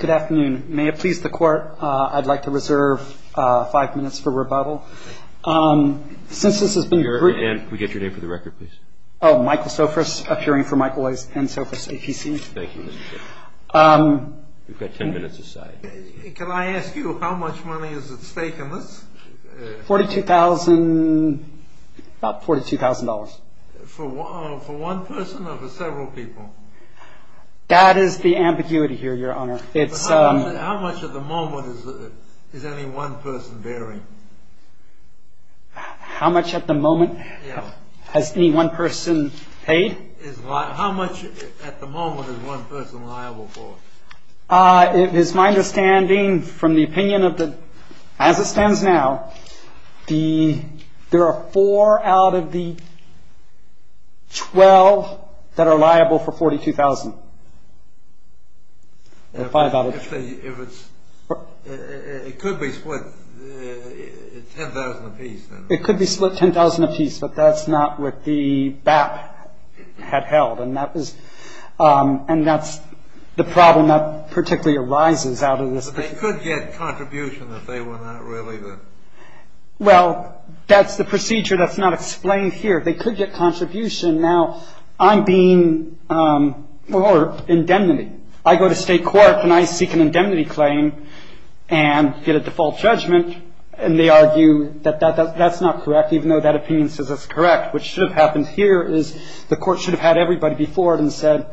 Good afternoon. May it please the Court, I'd like to reserve five minutes for rebuttal. Since this has been briefed... Can we get your name for the record, please? Michael Sofris, appearing for Michael and Sofris, APC. Thank you, Mr. Chair. We've got ten minutes aside. Can I ask you how much money is at stake in this? Forty-two thousand, about $42,000. For one person or for several people? That is the ambiguity here, Your Honor. How much at the moment is any one person bearing? How much at the moment has any one person paid? How much at the moment is one person liable for? It is my understanding from the opinion of the... as it stands now, there are four out of the twelve that are liable for $42,000. If it's... it could be split $10,000 apiece. It could be split $10,000 apiece, but that's not what the BAP had held. And that was... and that's the problem that particularly arises out of this. But they could get contribution if they were not really the... Well, that's the procedure that's not explained here. They could get contribution. Now, I'm being... or indemnity. I go to state court and I seek an indemnity claim and get a default judgment, and they argue that that's not correct, even though that opinion says it's correct. What should have happened here is the court should have had everybody before it and said,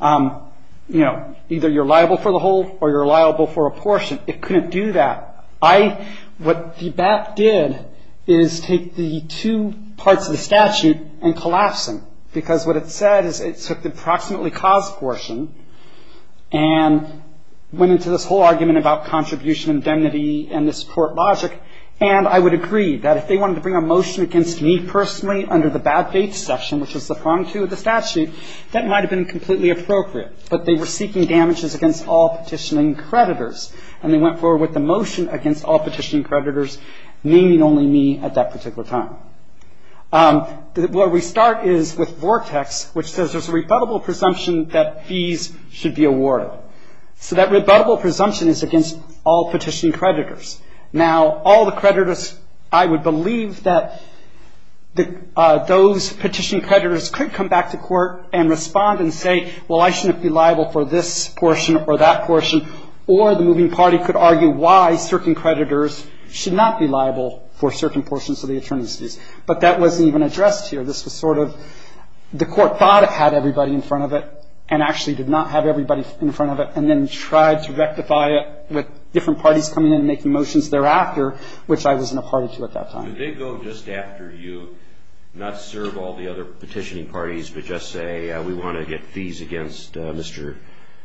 you know, either you're liable for the whole or you're liable for a portion. It couldn't do that. I... what the BAP did is take the two parts of the statute and collapse them because what it said is it took the approximately caused portion and went into this whole argument about contribution, indemnity, and this court logic. And I would agree that if they wanted to bring a motion against me personally under the bad dates section, which was the front two of the statute, that might have been completely appropriate. But they were seeking damages against all petitioning creditors, and they went forward with the motion against all petitioning creditors, naming only me at that particular time. Where we start is with Vortex, which says there's a rebuttable presumption that fees should be awarded. So that rebuttable presumption is against all petitioning creditors. Now, all the creditors, I would believe that those petitioning creditors could come back to court and respond and say, well, I shouldn't be liable for this portion or that portion, or the moving party could argue why certain creditors should not be liable for certain portions of the attorneys' fees. But that wasn't even addressed here. This was sort of the court thought it had everybody in front of it and actually did not have everybody in front of it And then tried to rectify it with different parties coming in and making motions thereafter, which I was in a party to at that time. Could they go just after you, not serve all the other petitioning parties, but just say we want to get fees against Mr.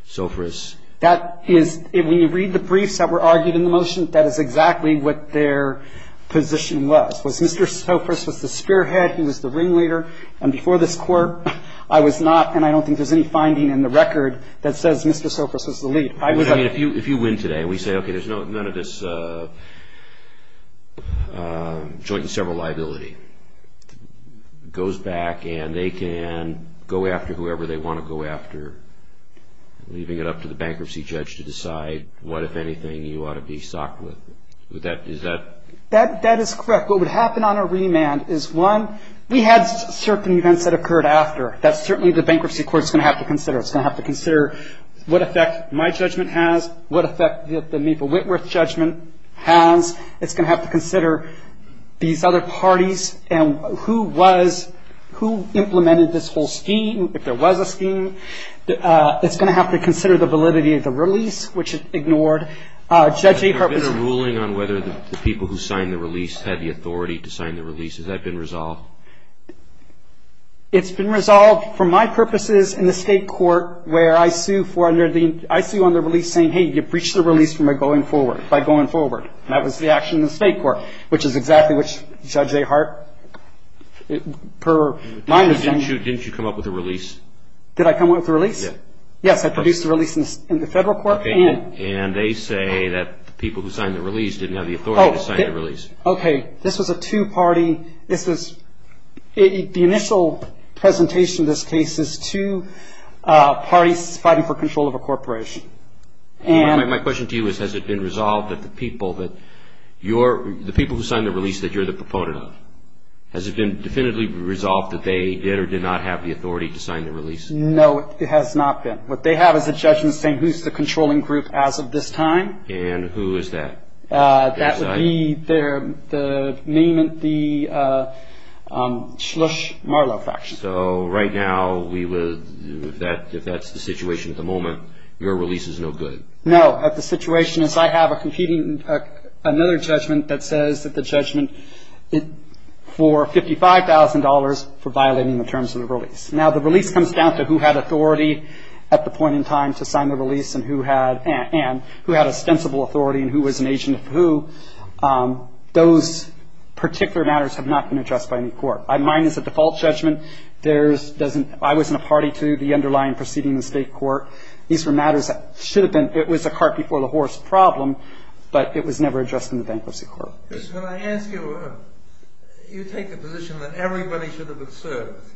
Sophris? That is, when you read the briefs that were argued in the motion, that is exactly what their position was. Was Mr. Sophris was the spearhead, he was the ringleader. And before this Court, I was not, and I don't think there's any finding in the record that says Mr. Sophris was the lead. If you win today and we say, okay, there's none of this joint and several liability, goes back and they can go after whoever they want to go after, leaving it up to the bankruptcy judge to decide what, if anything, you ought to be socked with, is that? That is correct. What would happen on a remand is, one, we had certain events that occurred after. That's certainly what the bankruptcy court is going to have to consider. It's going to have to consider what effect my judgment has, what effect the Mepa-Wentworth judgment has. It's going to have to consider these other parties and who was, who implemented this whole scheme, if there was a scheme. It's going to have to consider the validity of the release, which it ignored. Judge Ahart was Has there been a ruling on whether the people who signed the release had the authority to sign the release? Has that been resolved? It's been resolved for my purposes in the state court where I sue on the release saying, hey, you breached the release by going forward. That was the action in the state court, which is exactly what Judge Ahart, per my understanding Didn't you come up with a release? Did I come up with a release? Yes. Yes, I produced a release in the federal court and And they say that the people who signed the release didn't have the authority to sign the release. Okay, this was a two-party, this is, the initial presentation of this case is two parties fighting for control of a corporation. My question to you is, has it been resolved that the people that you're, the people who signed the release that you're the proponent of, has it been definitively resolved that they did or did not have the authority to sign the release? No, it has not been. What they have is a judgment saying who's the controlling group as of this time. And who is that? That would be the name of the Shlush Marlow faction. So right now we would, if that's the situation at the moment, your release is no good. No, the situation is I have a competing, another judgment that says that the judgment for $55,000 for violating the terms of the release. Now the release comes down to who had authority at the point in time to sign the release and who had ostensible authority and who was an agent of who. Those particular matters have not been addressed by any court. Mine is a default judgment. I was in a party to the underlying proceeding in the state court. These were matters that should have been, it was a cart before the horse problem, but it was never addressed in the bankruptcy court. When I ask you, you take the position that everybody should have been served.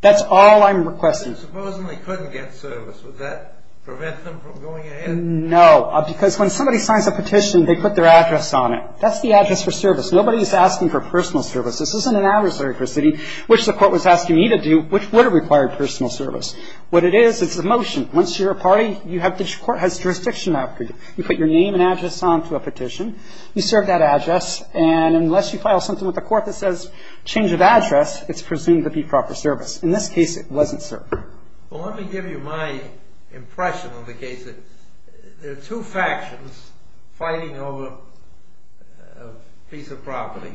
That's all I'm requesting. Supposing they couldn't get service, would that prevent them from going ahead? No, because when somebody signs a petition, they put their address on it. That's the address for service. Nobody is asking for personal service. This isn't an adversary proceeding, which the court was asking me to do, which would have required personal service. What it is, it's a motion. Once you're a party, the court has jurisdiction after you. You put your name and address onto a petition. You serve that address, and unless you file something with the court that says change of address, it's presumed to be proper service. In this case, it wasn't served. Well, let me give you my impression of the case. There are two factions fighting over a piece of property.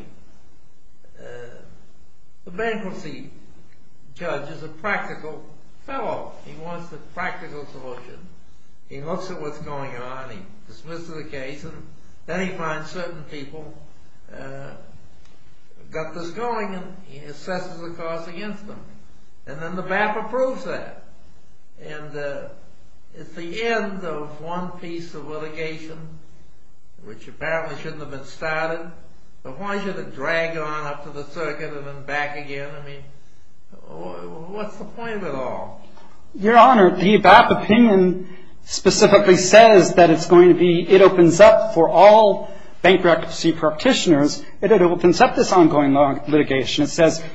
The bankruptcy judge is a practical fellow. He wants the practical solution. He looks at what's going on. He dismisses the case, and then he finds certain people got this going, and he assesses the cause against them. And then the BAP approves that. And it's the end of one piece of litigation, which apparently shouldn't have been started. But why should it drag on up to the circuit and then back again? I mean, what's the point of it all? Your Honor, the BAP opinion specifically says that it's going to be, It says,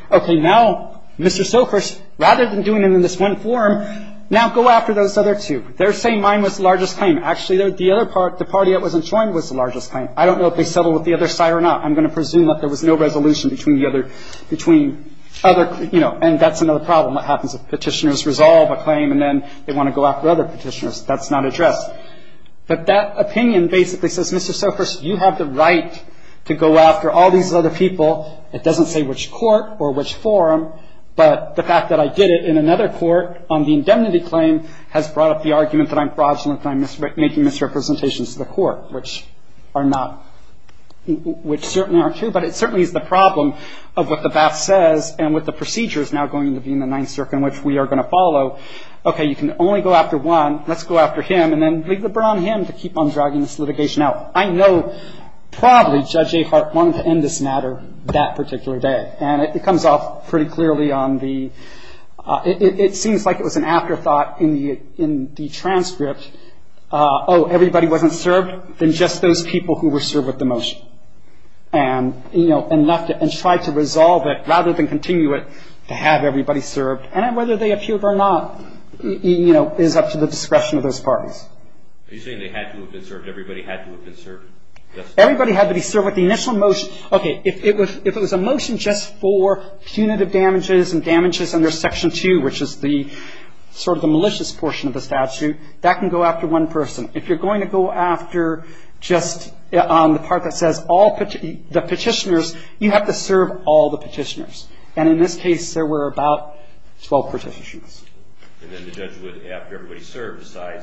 okay, now, Mr. Sofers, rather than doing it in this one form, now go after those other two. They're saying mine was the largest claim. Actually, the other party that wasn't joined was the largest claim. I don't know if they settled with the other side or not. I'm going to presume that there was no resolution between the other, between other, you know, and that's another problem. What happens if petitioners resolve a claim, and then they want to go after other petitioners? That's not addressed. But that opinion basically says, Mr. Sofers, you have the right to go after all these other people. It doesn't say which court or which forum. But the fact that I did it in another court on the indemnity claim has brought up the argument that I'm fraudulent and I'm making misrepresentations to the court, which are not, which certainly aren't true. But it certainly is the problem of what the BAP says and what the procedure is now going to be in the Ninth Circuit, which we are going to follow. Okay, you can only go after one. Let's go after him and then leave the burden on him to keep on dragging this litigation out. I know probably Judge Ahart wanted to end this matter that particular day. And it comes off pretty clearly on the, it seems like it was an afterthought in the transcript. Oh, everybody wasn't served? Then just those people who were served with the motion and, you know, and left it and tried to resolve it rather than continue it to have everybody served. And whether they appeared or not, you know, is up to the discretion of those parties. Are you saying they had to have been served? Everybody had to have been served? Everybody had to be served with the initial motion. Okay, if it was a motion just for punitive damages and damages under Section 2, which is the sort of the malicious portion of the statute, that can go after one person. If you're going to go after just the part that says all the petitioners, you have to serve all the petitioners. And in this case, there were about 12 petitioners. And then the judge would, after everybody served, decide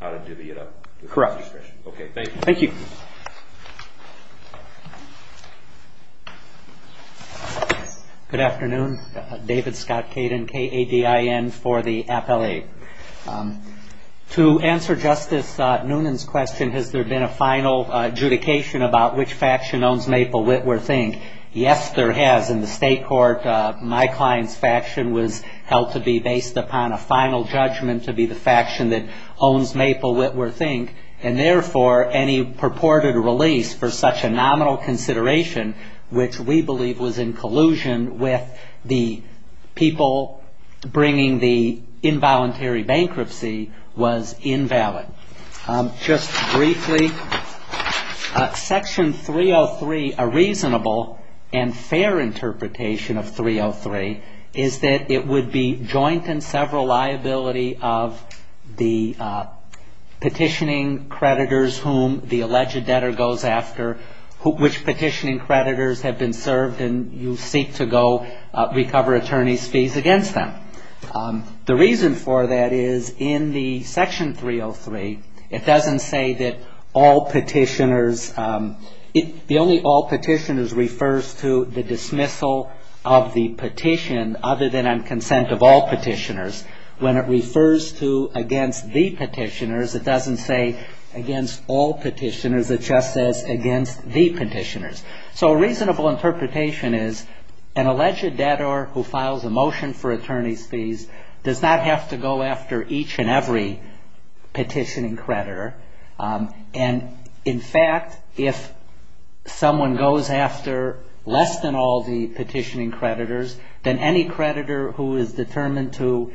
how to divvy it up. Correct. Okay, thank you. Thank you. Good afternoon. David Scott Caden, K-A-D-I-N, for the appellate. To answer Justice Noonan's question, has there been a final adjudication about which faction owns Maple, Witwer, Think? Yes, there has. My client's faction was held to be based upon a final judgment to be the faction that owns Maple, Witwer, Think. And therefore, any purported release for such a nominal consideration, which we believe was in collusion with the people bringing the involuntary bankruptcy, was invalid. Just briefly, Section 303, a reasonable and fair interpretation of 303, is that it would be joint and several liability of the petitioning creditors whom the alleged debtor goes after, which petitioning creditors have been served, and you seek to go recover attorney's fees against them. The reason for that is in the Section 303, it doesn't say that all petitioners, the only all petitioners refers to the dismissal of the petition other than on consent of all petitioners. When it refers to against the petitioners, it doesn't say against all petitioners. It just says against the petitioners. So a reasonable interpretation is an alleged debtor who files a motion for attorney's fees does not have to go after each and every petitioning creditor. And in fact, if someone goes after less than all the petitioning creditors, then any creditor who is determined to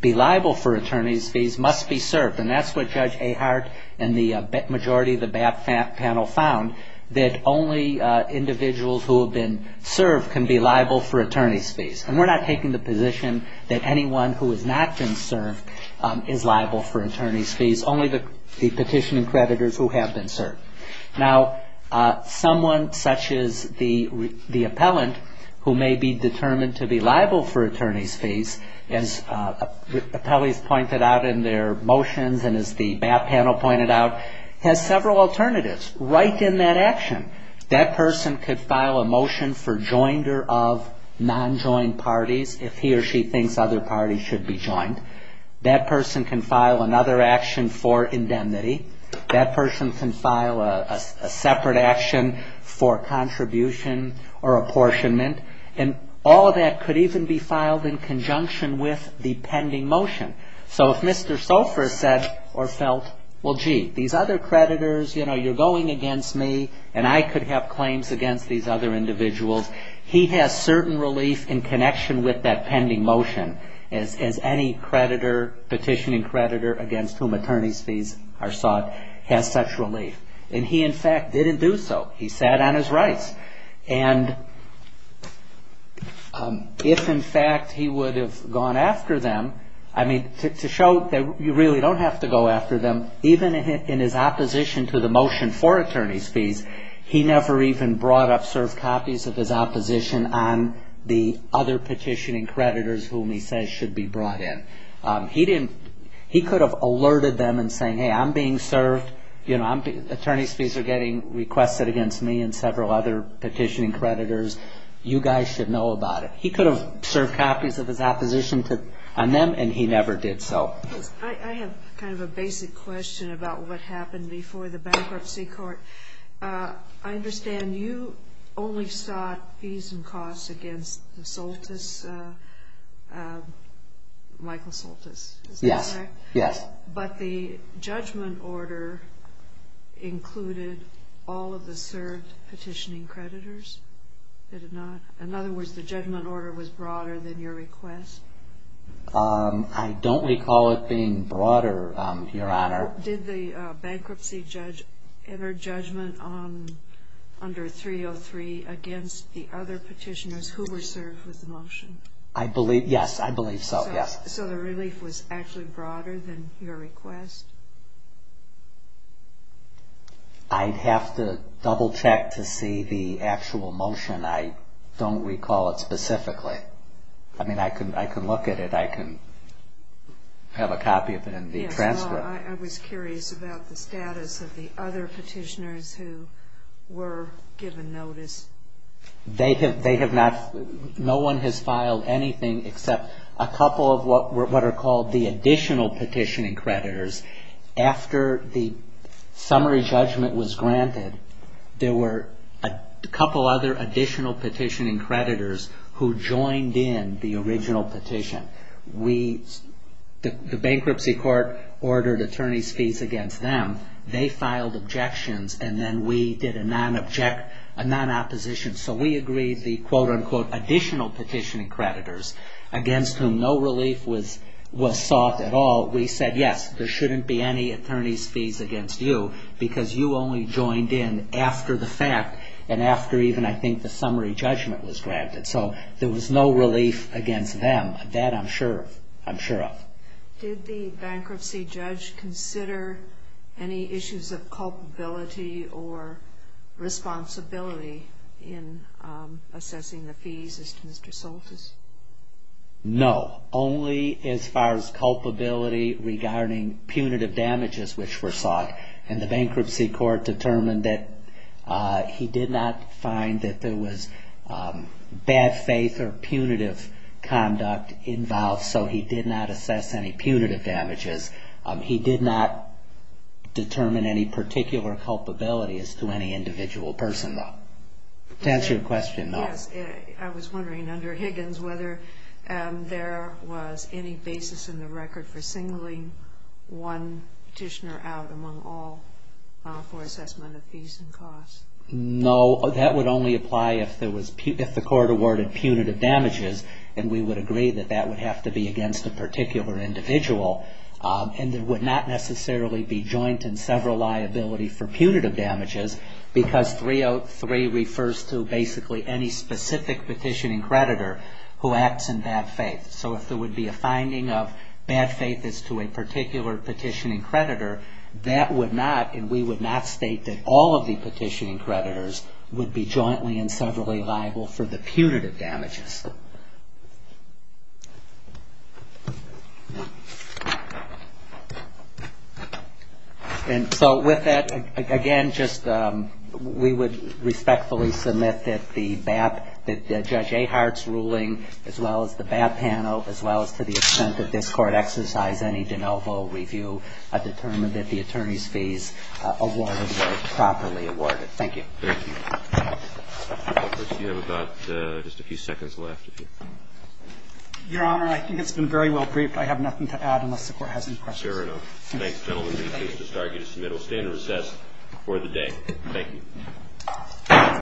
be liable for attorney's fees must be served. And that's what Judge Ahart and the majority of the BAP panel found, that only individuals who have been served can be liable for attorney's fees. And we're not taking the position that anyone who has not been served is liable for attorney's fees, only the petitioning creditors who have been served. Now, someone such as the appellant who may be determined to be liable for attorney's fees, as appellees pointed out in their motions and as the BAP panel pointed out, has several alternatives right in that action. That person could file a motion for jointer of non-joined parties if he or she thinks other parties should be joined. That person can file another action for indemnity. That person can file a separate action for contribution or apportionment. And all of that could even be filed in conjunction with the pending motion. So if Mr. Sofer said or felt, well, gee, these other creditors, you know, you're going against me and I could have claims against these other individuals, he has certain relief in connection with that pending motion as any creditor, petitioning creditor against whom attorney's fees are sought has such relief. And he, in fact, didn't do so. He sat on his rights. And if, in fact, he would have gone after them, I mean, to show that you really don't have to go after them, even in his opposition to the motion for attorney's fees, he never even brought up served copies of his opposition on the other petitioning creditors whom he says should be brought in. He could have alerted them in saying, hey, I'm being served. Attorney's fees are getting requested against me and several other petitioning creditors. You guys should know about it. He could have served copies of his opposition on them, and he never did so. I have kind of a basic question about what happened before the bankruptcy court. I understand you only sought fees and costs against the Soltis, Michael Soltis, is that correct? Yes, yes. But the judgment order included all of the served petitioning creditors, did it not? In other words, the judgment order was broader than your request? I don't recall it being broader, Your Honor. Did the bankruptcy judge enter judgment under 303 against the other petitioners who were served with the motion? I believe, yes, I believe so, yes. So the relief was actually broader than your request? I'd have to double check to see the actual motion. I don't recall it specifically. I mean, I can look at it. I can have a copy of it in the transcript. I was curious about the status of the other petitioners who were given notice. They have not, no one has filed anything except a couple of what are called the additional petitioning creditors. After the summary judgment was granted, there were a couple other additional petitioning creditors who joined in the original petition. The bankruptcy court ordered attorney's fees against them. They filed objections, and then we did a non-opposition. So we agreed the, quote, unquote, additional petitioning creditors, against whom no relief was sought at all, we said, yes, there shouldn't be any attorney's fees against you because you only joined in after the fact and after even, I think, the summary judgment was granted. So there was no relief against them. That I'm sure of. Did the bankruptcy judge consider any issues of culpability or responsibility in assessing the fees as to Mr. Soltis? No, only as far as culpability regarding punitive damages which were sought. And the bankruptcy court determined that he did not find that there was bad faith or punitive conduct involved, so he did not assess any punitive damages. He did not determine any particular culpability as to any individual person, though. To answer your question, though. Yes. I was wondering, under Higgins, whether there was any basis in the record for singling one petitioner out among all for assessment of fees and costs. No. That would only apply if the court awarded punitive damages, and we would agree that that would have to be against a particular individual. And there would not necessarily be joint and several liability for punitive damages because 303 refers to basically any specific petitioning creditor who acts in bad faith. So if there would be a finding of bad faith as to a particular petitioning creditor, that would not, and we would not state that all of the petitioning creditors would be jointly and severally liable for the punitive damages. And so with that, again, just we would respectfully submit that the judge Ahart's ruling, as well as the BAP panel, as well as to the extent that this Court exercised any de novo review, determined that the attorney's fees awarded were properly awarded. Thank you. Thank you. First, you have about just a few seconds left. Your Honor, I think it's been very well briefed. I have nothing to add unless the Court has any questions. Fair enough. Thanks, gentlemen. Please, Mr. Starkey, to submit. We'll stay in recess for the day. Thank you.